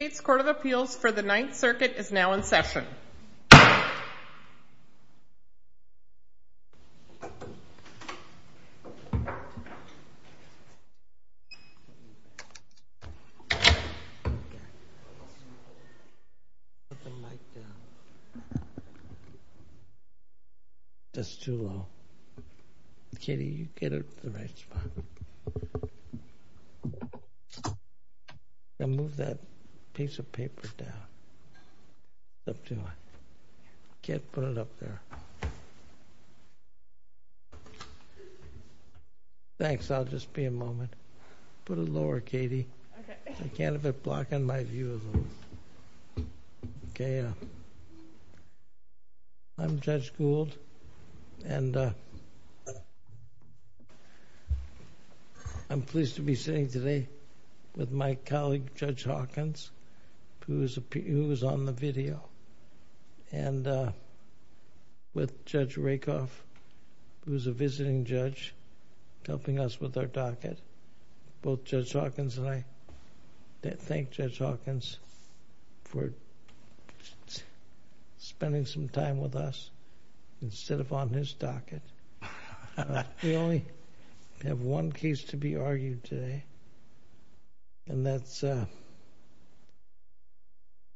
whiting. States court of appeals for the ninth circuit case of paper. Get put up there. Thanks I'll just be a moment. For the lower Katie. Can't have a block in my view. Okay. I'm just fooled. And. I'm pleased to say today. With my colleague judge Hawkins. Who is a P. who was on the video. And. With judge Rakoff. Who's a visiting judge. Helping us with their docket. Both judge Hawkins and I. Thank judge Hawkins. For. Spending some time with us. Instead of on his docket. We only. Have one case to be argued today. And that's.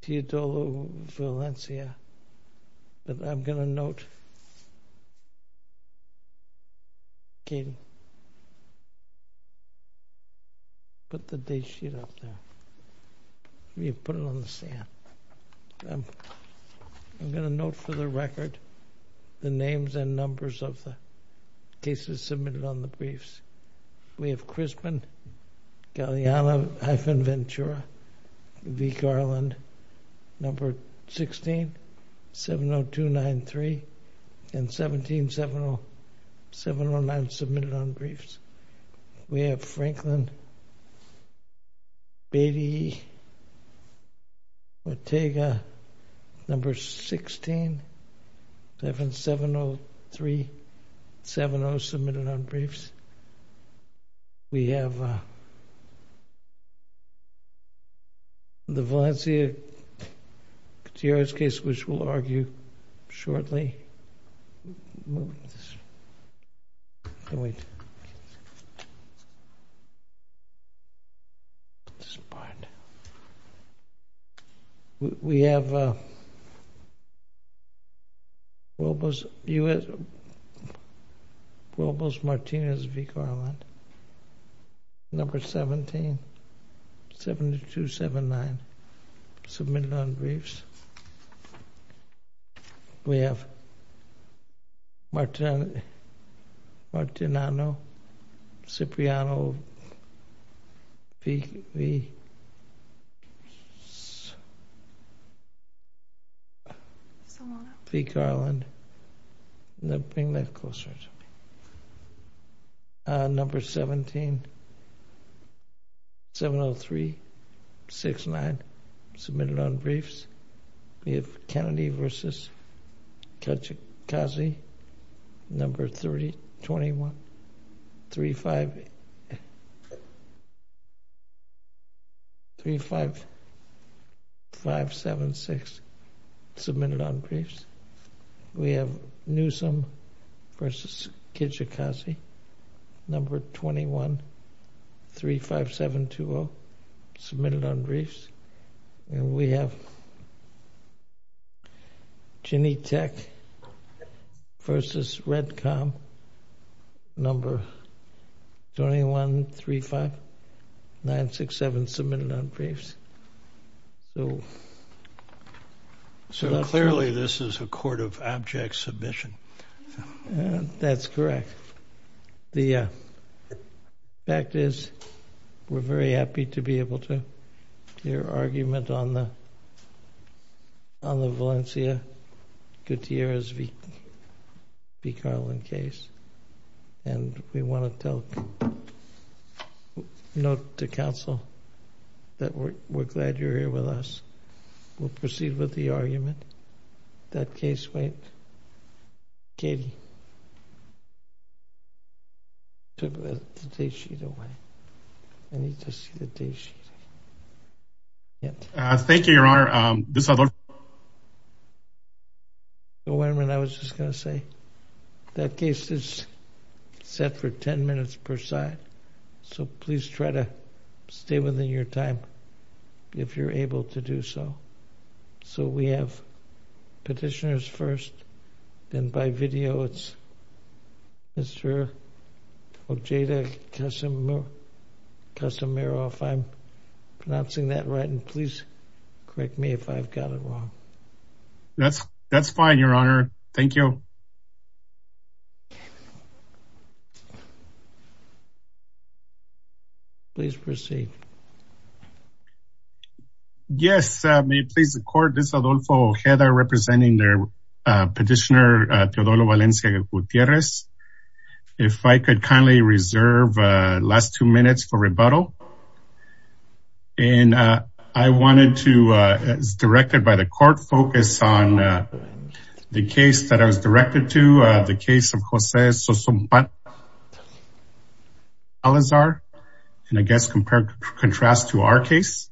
He told. That I'm gonna note. But that they should. Be put on the docket. I'm going to note for the record. The names and numbers of the. This is submitted on the briefs. We have christened. Yeah, yeah, I've been ventura. The garland. Number 16. 7 0 2 9 3. And 17 7 0. 7 0 9 submitted on briefs. We have franklin. Beatty. Take a. Number 16. 7 7 0 3. 7 0 submitted on briefs. We have. The number 17. 7 0 2 9 3. We have. Robles U.S. Robles Martinez V. Garland. Number 17. 7 2 7 9. Submitted on briefs. We have. Martin. Martin. I know. Cipriano. The. The garland. The thing that goes. Number 17. 7 0 3 6 9. Submitted on briefs. We have Kennedy versus. Kajikazi. Number 30 21. 3 5. 3 5. 5 7 6. Submitted on briefs. We have newsome. Versus Kajikazi. Number 21. 3 5 7 2 0. Submitted on briefs. And we have. Jenny Tech. Versus Red Com. Number. 21 3 5. 9 6 7. Submitted on briefs. So. So clearly this is a court of object submission. That's correct. The. Fact is, we're very happy to be able to hear argument on the. On the Valencia Gutierrez v. V. Garland case. And we want to tell. Note to council. That we're glad you're here with us. We'll proceed with the argument. That case, wait. Katie. Took the day sheet away. I need to see the day sheet. Yes. Thank you, your honor. This other. Wait a minute. I was just gonna say. That case is. Set for 10 minutes per side. So please try to. Stay within your time. If you're able to do so. So we have. Petitioners first. And by video, it's. Mr. Jada customer. Customer off. I'm. Not seeing that right. And please correct me if I've got it wrong. That's that's fine, your honor. Thank you. Please proceed. Yes, may it please the court. This is Adolfo Jada representing their petitioner, Teodoro Valencia Gutierrez. If I could kindly reserve last two minutes for rebuttal. And I wanted to, as directed by the court, focus on the case that I was directed to the case of Jose Sosompa Alizar. And I guess compare contrast to our case.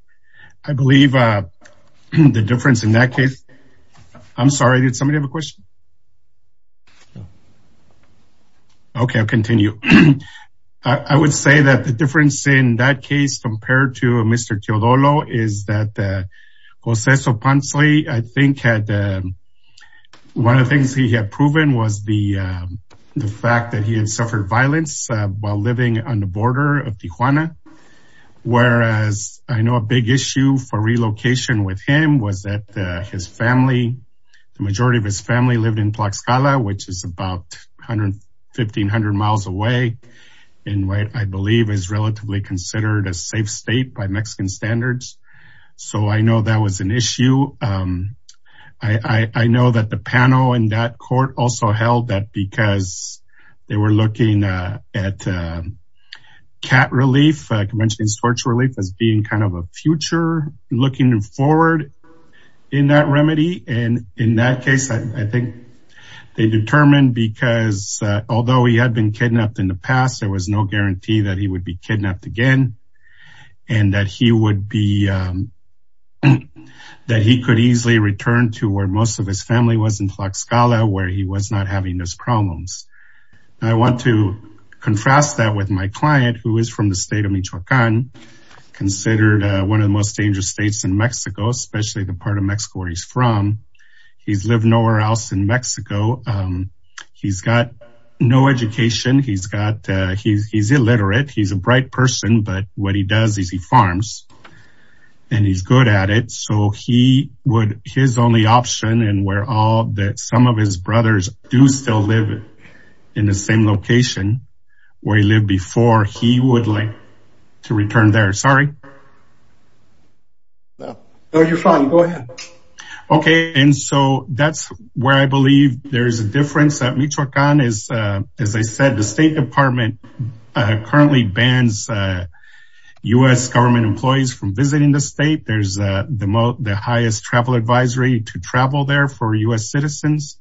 I believe the difference in that case. I'm sorry, did somebody have a question? Okay, I'll continue. I would say that the difference in that case compared to Mr. Teodoro is that Jose Sopancli, I think had one of the things he had proven was the fact that he had suffered violence while living on the border of Tijuana. Whereas I know a big issue for relocation with him was that his family, the majority of his family lived in Tlaxcala, which is about 1,500 miles away, in what I believe is relatively considered a safe state by Mexican standards. So I know that was an issue. I know that the panel in that court also held that because they were looking at cat relief, conventional torture relief as being kind of a future looking forward in that remedy. And in that case, I think they determined because although he had been kidnapped in the past, there was no guarantee that he would be kidnapped again. And that he would be that he could easily return to where most of his family was in Tlaxcala where he was not having those problems. I want to confess that with my client who is from the state of Michoacan, considered one of the most dangerous states in Mexico, especially the part of Mexico where he's from. He's lived nowhere else in Mexico. He's got no education. He's got he's illiterate. He's a bright person. But what he does is he farms and he's good at it. So he would his only option and where that some of his brothers do still live in the same location where he lived before he would like to return there. Sorry. No, you're fine. Go ahead. Okay. And so that's where I believe there's a difference that Michoacan is, as I said, the State Department currently bans US government employees from visiting the state. There's the most the highest travel advisory to travel there for US citizens,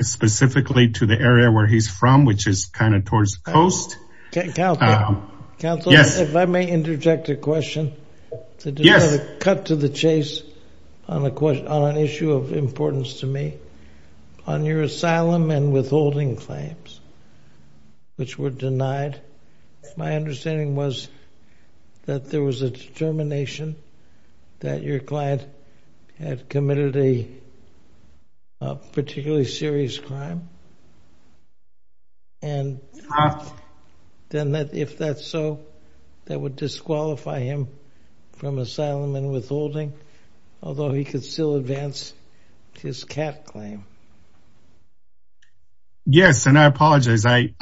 specifically to the area where he's from, which is kind of towards the coast. Counselor, if I may interject a question, to cut to the chase on an issue of importance to me, on your asylum and withholding claims, which were denied, my understanding was that there was a determination that your client had committed a particularly serious crime. And then that if that's so, that would disqualify him from asylum and withholding, although he could still advance his cat claim. Yes, and I apologize. I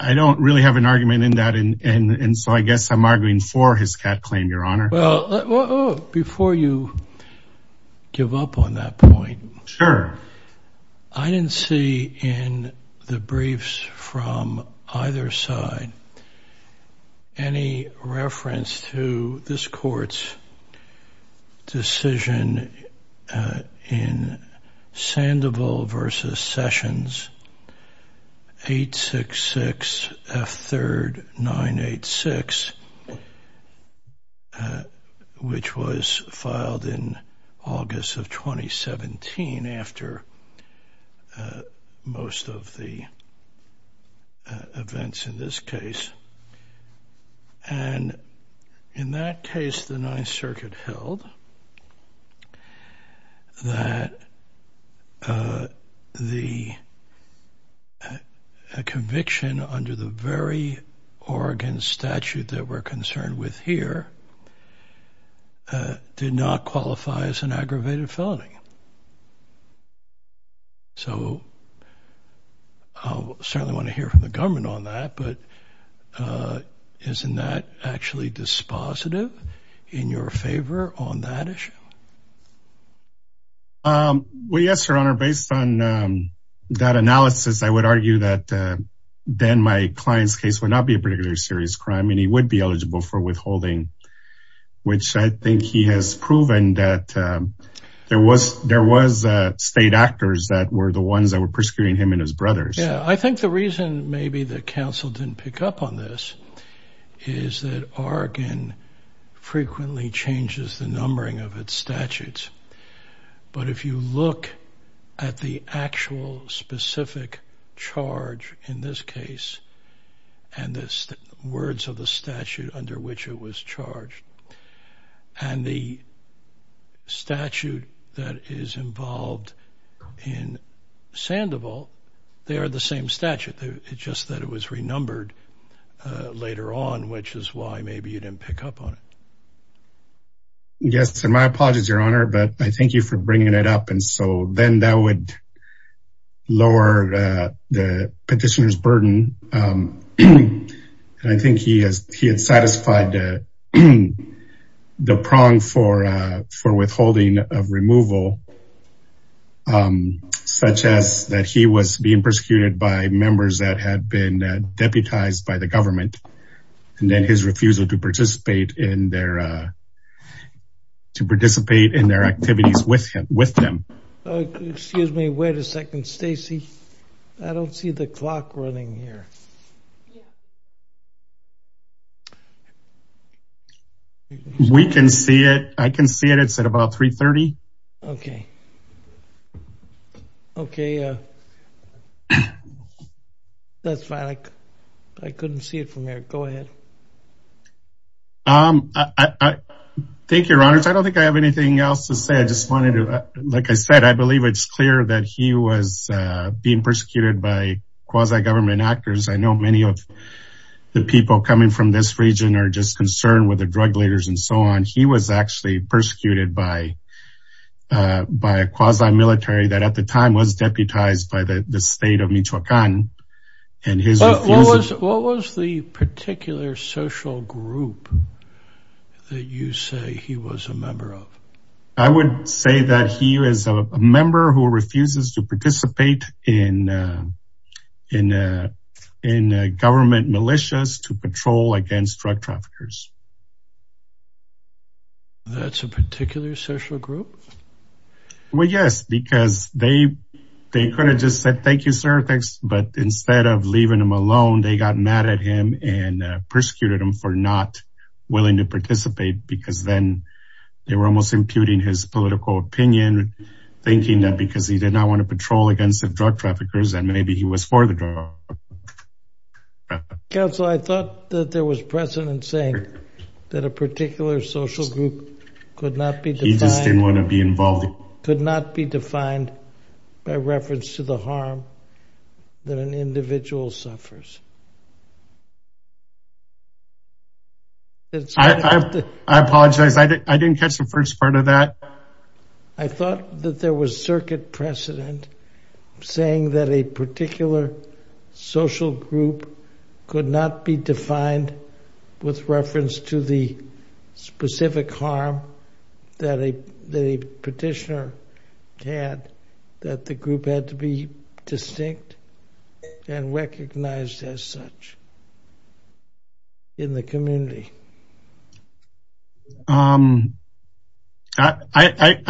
don't really have an argument in that. And so I guess I'm arguing for his cat claim, Your Honor. Well, before you give up on that point, I didn't see in the briefs from either side, any reference to this court's decision in Sandoval v. Sessions, 866 F. 3rd. 986, which was filed in August of 2017, after most of the events in this case. And in that case, the Ninth Circuit held that the conviction under the very Oregon statute that we're concerned with here did not qualify as an aggravated felony. So I certainly want to hear from the government on that. But isn't that actually dispositive in your favor on that issue? Well, yes, Your Honor, based on that analysis, I would argue that then my client's case would not be a particularly serious crime and he would be eligible for withholding, which I think he has proven that there was state actors that were the ones that were the ones that counsel didn't pick up on this is that Oregon frequently changes the numbering of its statutes. But if you look at the actual specific charge in this case, and the words of the statute under which it was charged, and the statute that is involved in Sandoval, they are the same statute. It's just that it was renumbered later on, which is why maybe you didn't pick up on it. Yes, and my apologies, Your Honor, but I thank you for bringing it up. And so then that would lower the petitioner's burden. And I think he has he had satisfied the prong for withholding of removal, such as that he was being persecuted by members that had been deputized by the government, and then his refusal to participate in their to participate in their activities with him with them. Excuse me, wait a second, Stacey. I don't see the clock running here. We can see it. I can see it. It's at about 330. Okay. Okay. That's fine. I couldn't see it from here. Go ahead. Thank you, Your Honor. I don't think I have anything else to say. I just wanted to, like I said, I believe it's clear that he was being persecuted by quasi government actors. I know many of the people coming from this region are just concerned with the drug leaders and so on. He was actually persecuted by a quasi military that at the time was deputized by the state of Michoacan. What was the particular social group that you say he was a member of? I would say that he is a member who refuses to participate in government militias to patrol against drug traffickers. That's a particular social group? Well, yes, because they could have just said, thank you, sir. Thanks. But instead of leaving him alone, they got mad at him and persecuted him for not willing to participate because then they were almost imputing his political opinion, thinking that because he did not want to patrol against the drug traffickers, that maybe he was for the drug. Councilor, I thought that there was precedent saying that a particular social group could not be defined by reference to the harm that an individual suffers. I apologize. I didn't catch the first part of that. I thought that there was circuit precedent saying that a particular social group could not be defined with reference to the specific harm that a petitioner had, that the group had to be distinct and recognized as such in the community. I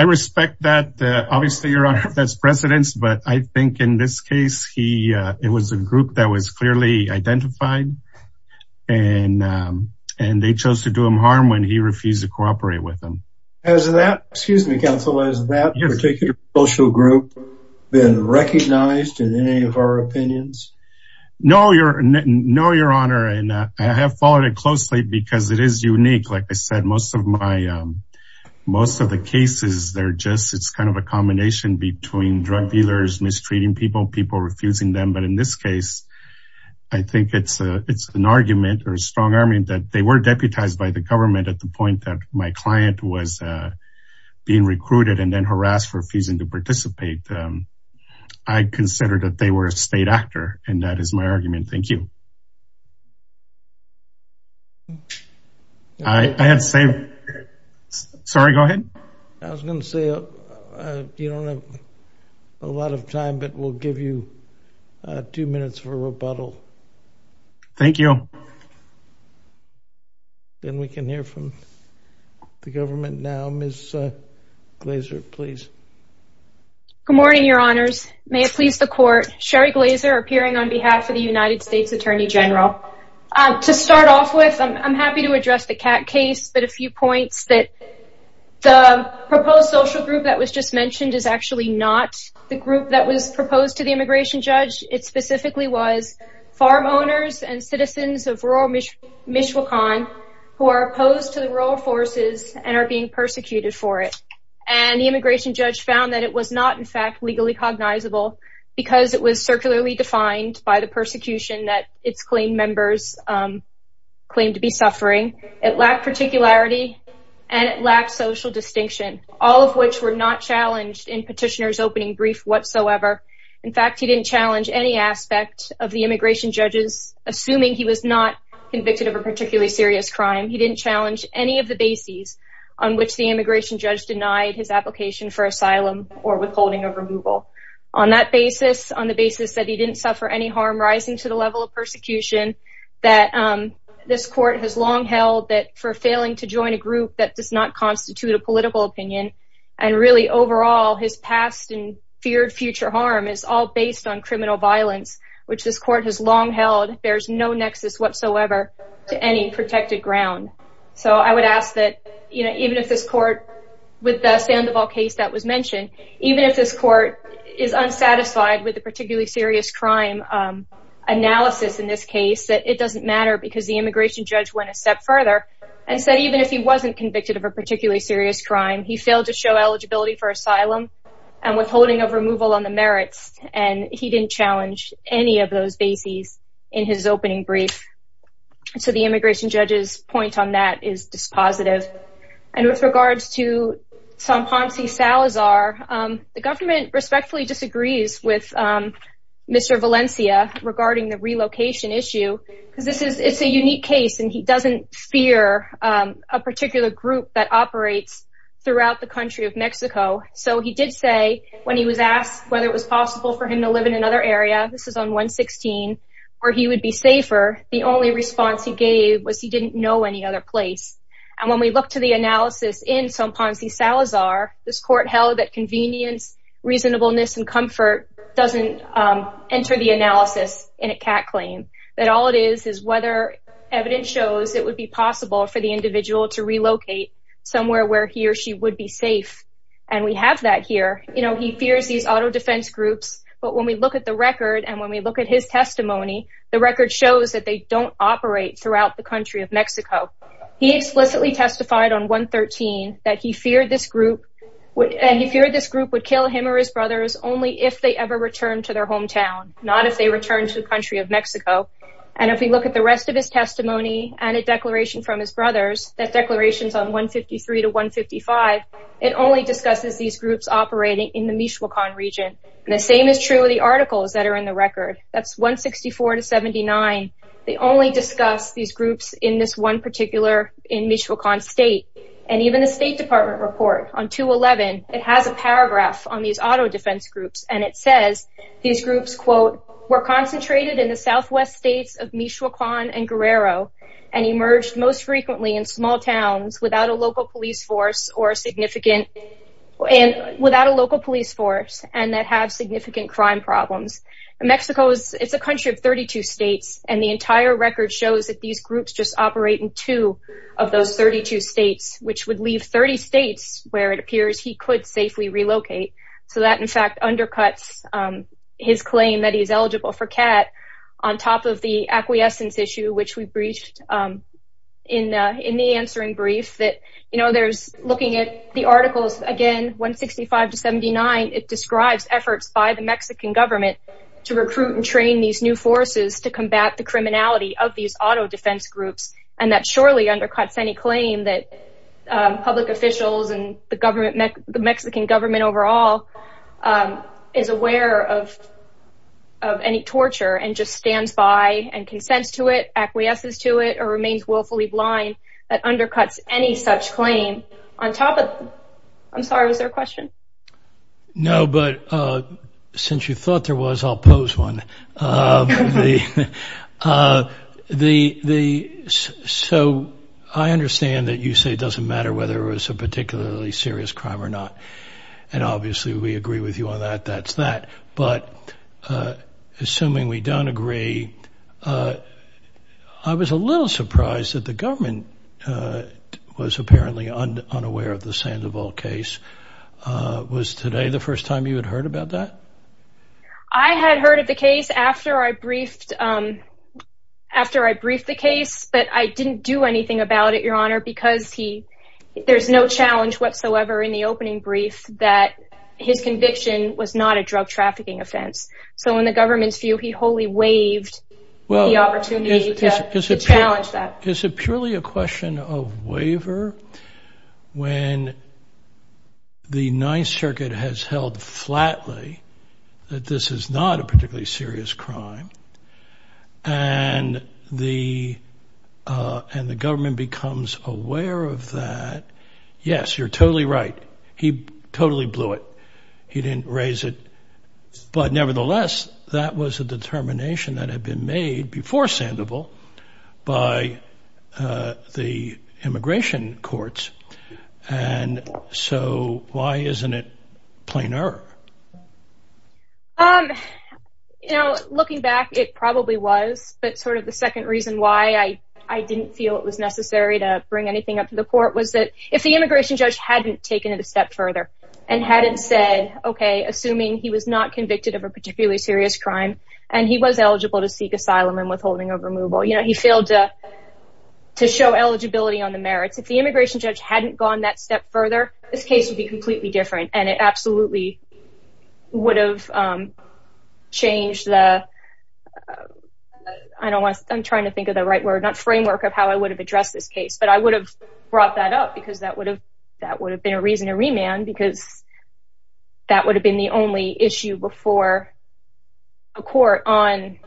respect that. Obviously, Your Honor, that's precedence. But I think in this case, it was a group that was clearly identified. And they chose to do him harm when he refused to cooperate with them. Excuse me, Councilor, has that particular social group been recognized in any of our opinions? No, Your Honor. And I have followed it closely because I've been a member of the community for a long time. And because it is unique, like I said, most of the cases, they're just, it's kind of a combination between drug dealers, mistreating people, people refusing them. But in this case, I think it's an argument or a strong argument that they were deputized by the government at the point that my client was being recruited and then harassed for refusing to participate. I consider that they were a state actor. And that is my argument. Thank you. I had to say, sorry, go ahead. I was gonna say, you don't have a lot of time, but we'll give you two minutes for rebuttal. Thank you. Then we can hear from the government now. Ms. Glazer, please. Good morning, Your Honors. May it please the court. Sherry Glazer appearing on the United States Attorney General. To start off with, I'm happy to address the Kat case, but a few points that the proposed social group that was just mentioned is actually not the group that was proposed to the immigration judge. It specifically was farm owners and citizens of rural Michoacan who are opposed to the rural forces and are being persecuted for it. And the immigration judge found that it was not in fact legally cognizable, because it was circularly defined by the persecution that its claim members claim to be suffering. It lacked particularity, and it lacked social distinction, all of which were not challenged in petitioners opening brief whatsoever. In fact, he didn't challenge any aspect of the immigration judges, assuming he was not convicted of a particularly serious crime. He didn't challenge any of the bases on which the immigration judge denied his application for asylum or withholding of removal. On that basis, on the basis that he didn't suffer any harm rising to the level of persecution, that this court has long held that for failing to join a group that does not constitute a political opinion, and really overall his past and feared future harm is all based on criminal violence, which this court has long held there's no nexus whatsoever to any protected ground. So I would ask that you know, even if this court, with the Sandoval case that was mentioned, even if this court is unsatisfied with the particularly serious crime analysis in this case, that it doesn't matter because the immigration judge went a step further and said even if he wasn't convicted of a particularly serious crime, he failed to show eligibility for asylum and withholding of removal on the merits, and he didn't challenge any of those bases in his opening brief. So the immigration judge's point on that is dispositive. And with regards to Somponsi-Salazar, the government respectfully disagrees with Mr. Valencia regarding the relocation issue, because this is a unique case and he doesn't fear a particular group that operates throughout the country of Mexico. So he did say when he was asked whether it was possible for him to live in another area, this is on 116, where he would be safer, the only response he gave was he didn't know any other place. And when we look to the analysis in Somponsi-Salazar, this court held that convenience, reasonableness, and comfort doesn't enter the analysis in a CAT claim. That all it is is whether evidence shows it would be possible for the individual to relocate somewhere where he or she would be safe. And we have that here. You know, he fears these auto defense groups, but when we look at the record and when we look at his testimony, the record shows that they don't operate throughout the country of Mexico. He explicitly testified on 113 that he feared this group would kill him or his brothers only if they ever returned to their hometown, not if they returned to the country of Mexico. And if we look at the rest of his testimony and a declaration from his brothers, that declaration's on 153 to 155, it only discusses these groups operating in the Michoacan region. And the same is true of the articles that are in the record. That's 164 to 79. They only discuss these groups in this one particular, in the State Department report on 211. It has a paragraph on these auto defense groups, and it says these groups, quote, were concentrated in the southwest states of Michoacan and Guerrero and emerged most frequently in small towns without a local police force or significant and without a local police force and that have significant crime problems. Mexico is it's a country of 32 states, and the entire record shows that these groups just operate in two of the 30 states where it appears he could safely relocate. So that, in fact, undercuts his claim that he's eligible for CAT on top of the acquiescence issue, which we breached in the answering brief that, you know, there's looking at the articles again, 165 to 79, it describes efforts by the Mexican government to recruit and train these new forces to combat the criminality of these auto defense groups, and that surely undercuts any claim that public officials and the government, the Mexican government overall, is aware of any torture and just stands by and consents to it, acquiesces to it, or remains willfully blind. That undercuts any such claim on top of... I'm sorry, was there a question? No, but since you thought there was, I'll pose one. So I understand that you say it doesn't matter whether it was a particularly serious crime or not, and obviously we agree with you on that, that's that, but assuming we don't agree, I was a little surprised that the government was apparently unaware of the I had heard of the case after I briefed, after I briefed the case, but I didn't do anything about it, your honor, because he, there's no challenge whatsoever in the opening brief that his conviction was not a drug trafficking offense. So in the government's view, he wholly waived the opportunity to challenge that. Is it purely a that this is not a particularly serious crime, and the, and the government becomes aware of that. Yes, you're totally right. He totally blew it. He didn't raise it, but nevertheless, that was a determination that had been made before Sandoval by the immigration courts, and so why isn't it plainer? You know, looking back, it probably was, but sort of the second reason why I, I didn't feel it was necessary to bring anything up to the court was that if the immigration judge hadn't taken it a step further and hadn't said, okay, assuming he was not convicted of a particularly serious crime and he was eligible to seek asylum and withholding of removal, you know, he failed to show eligibility on the merits. If the immigration judge hadn't gone that step further, this case would be completely different, and it absolutely would have changed the, I don't want to, I'm trying to think of the right word, not framework of how I would have addressed this case, but I would have brought that up because that would have, that would have been a reason to remand because that would have been the only issue before a court on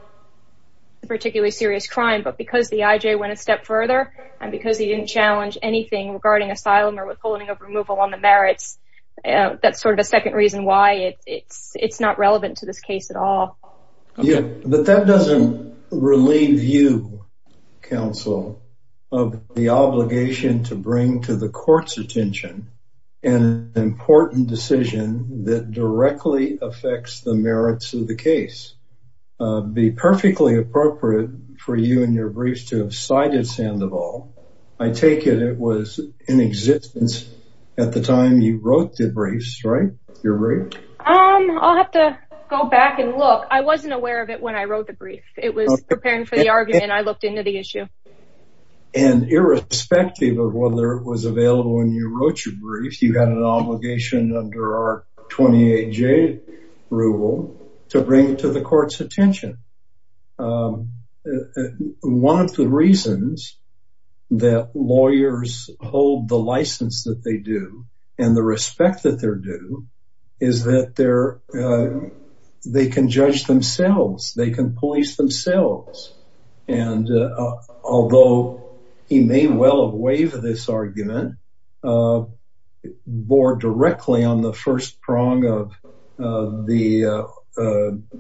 a particularly serious crime, but because the IJ went a step further and because he didn't challenge anything regarding asylum or withholding of removal on the merits, that's sort of a second reason why it's, it's, it's not relevant to this case at all. Yeah, but that doesn't relieve you, counsel, of the obligation to bring to the court's attention an important decision that directly affects the merits of the case. It would be perfectly appropriate for you and your briefs to have cited Sandoval. I take it it was in existence at the time you wrote the briefs, right? Your brief? I'll have to go back and look. I wasn't aware of it when I wrote the brief. It was preparing for the argument. I looked into the issue. And irrespective of whether it was available when you wrote your brief, you had an obligation under our 28J rule to bring it to the court's attention. One of the reasons that lawyers hold the license that they do and the respect that they're due is that they're, they can judge themselves. They can police themselves. And although he may well have waived this argument, bore directly on the first prong of the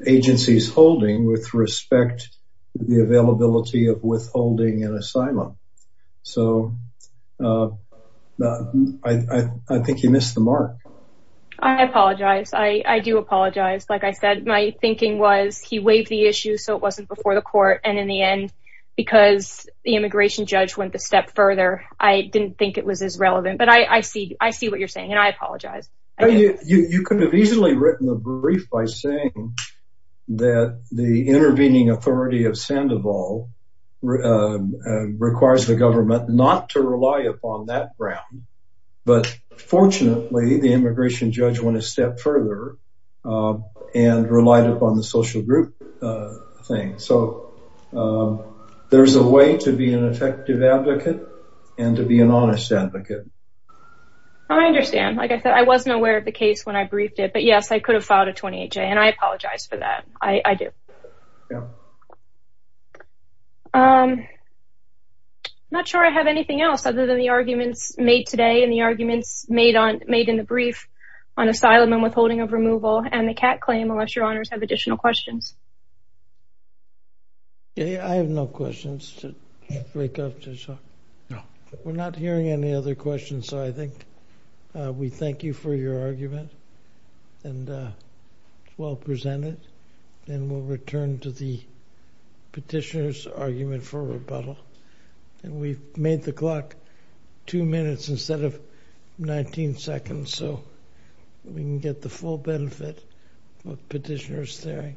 agency's holding with respect to the availability of withholding an asylum. So I think he missed the mark. I apologize. I do apologize. Like I said, my thinking was he waived the issue. So it wasn't before the court. And in the end, because the immigration judge went a step further, I didn't think it was as relevant. But I see what you're saying. And I apologize. You could have easily written a brief by saying that the intervening authority of Sandoval requires the government not to rely upon that ground. But fortunately, the immigration judge went a step further and relied upon the social group thing. So there's a way to be an effective advocate and to be an honest advocate. I understand. Like I said, I wasn't aware of the case when I briefed it. But yes, I could have filed a 28J and I apologize for that. I do. I'm not sure I have anything else other than the arguments made today and the arguments made on made in the brief on asylum and withholding of removal and the cat claim unless your honors have additional questions. Yeah, I have no questions to break up. We're not hearing any other questions. So I'm going to return to the petitioner's argument for rebuttal. And we've made the clock two minutes instead of 19 seconds. So we can get the full benefit of petitioner's hearing.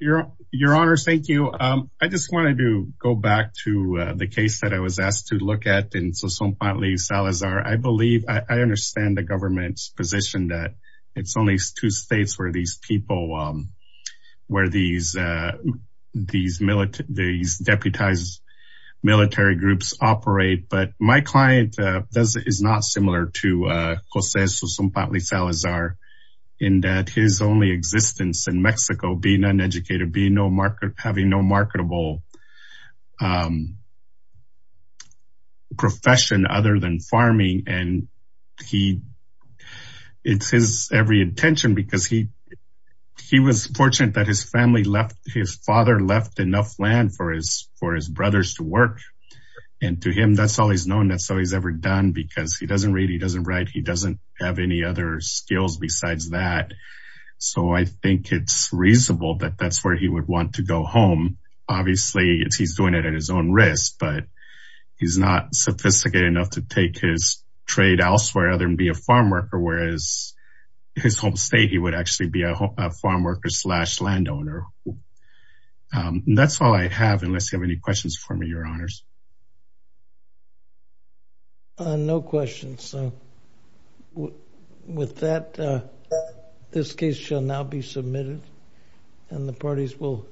Your honor, thank you. I just wanted to go back to the case that I was asked to look at in Sasson-Pontly-Salazar. I believe, I understand the government's position that it's only two states where these people, where these deputized military groups operate. But my client is not similar to Jose Sasson-Pontly-Salazar in that his only existence in Mexico being uneducated, having no marketable profession other than farming. And he, it's his every intention because he, he was fortunate that his family left, his father left enough land for his for his brothers to work. And to him, that's all he's known. That's all he's ever done because he doesn't read, he doesn't write, he doesn't have any other skills besides that. So I think it's reasonable that that's where he would want to go home. Obviously, it's he's doing it at his own risk, but he's not sophisticated enough to take his trade elsewhere other than be a farm worker, whereas his home state, he would actually be a farm worker slash landowner. That's all I have, unless you have any questions for me, your honors. No questions. With that, this case shall now be submitted. And the parties will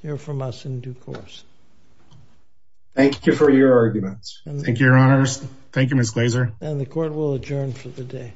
hear from us in due course. Thank you for your arguments. Thank you, your honors. Thank you, Ms. Glazer. And the court will adjourn for the day.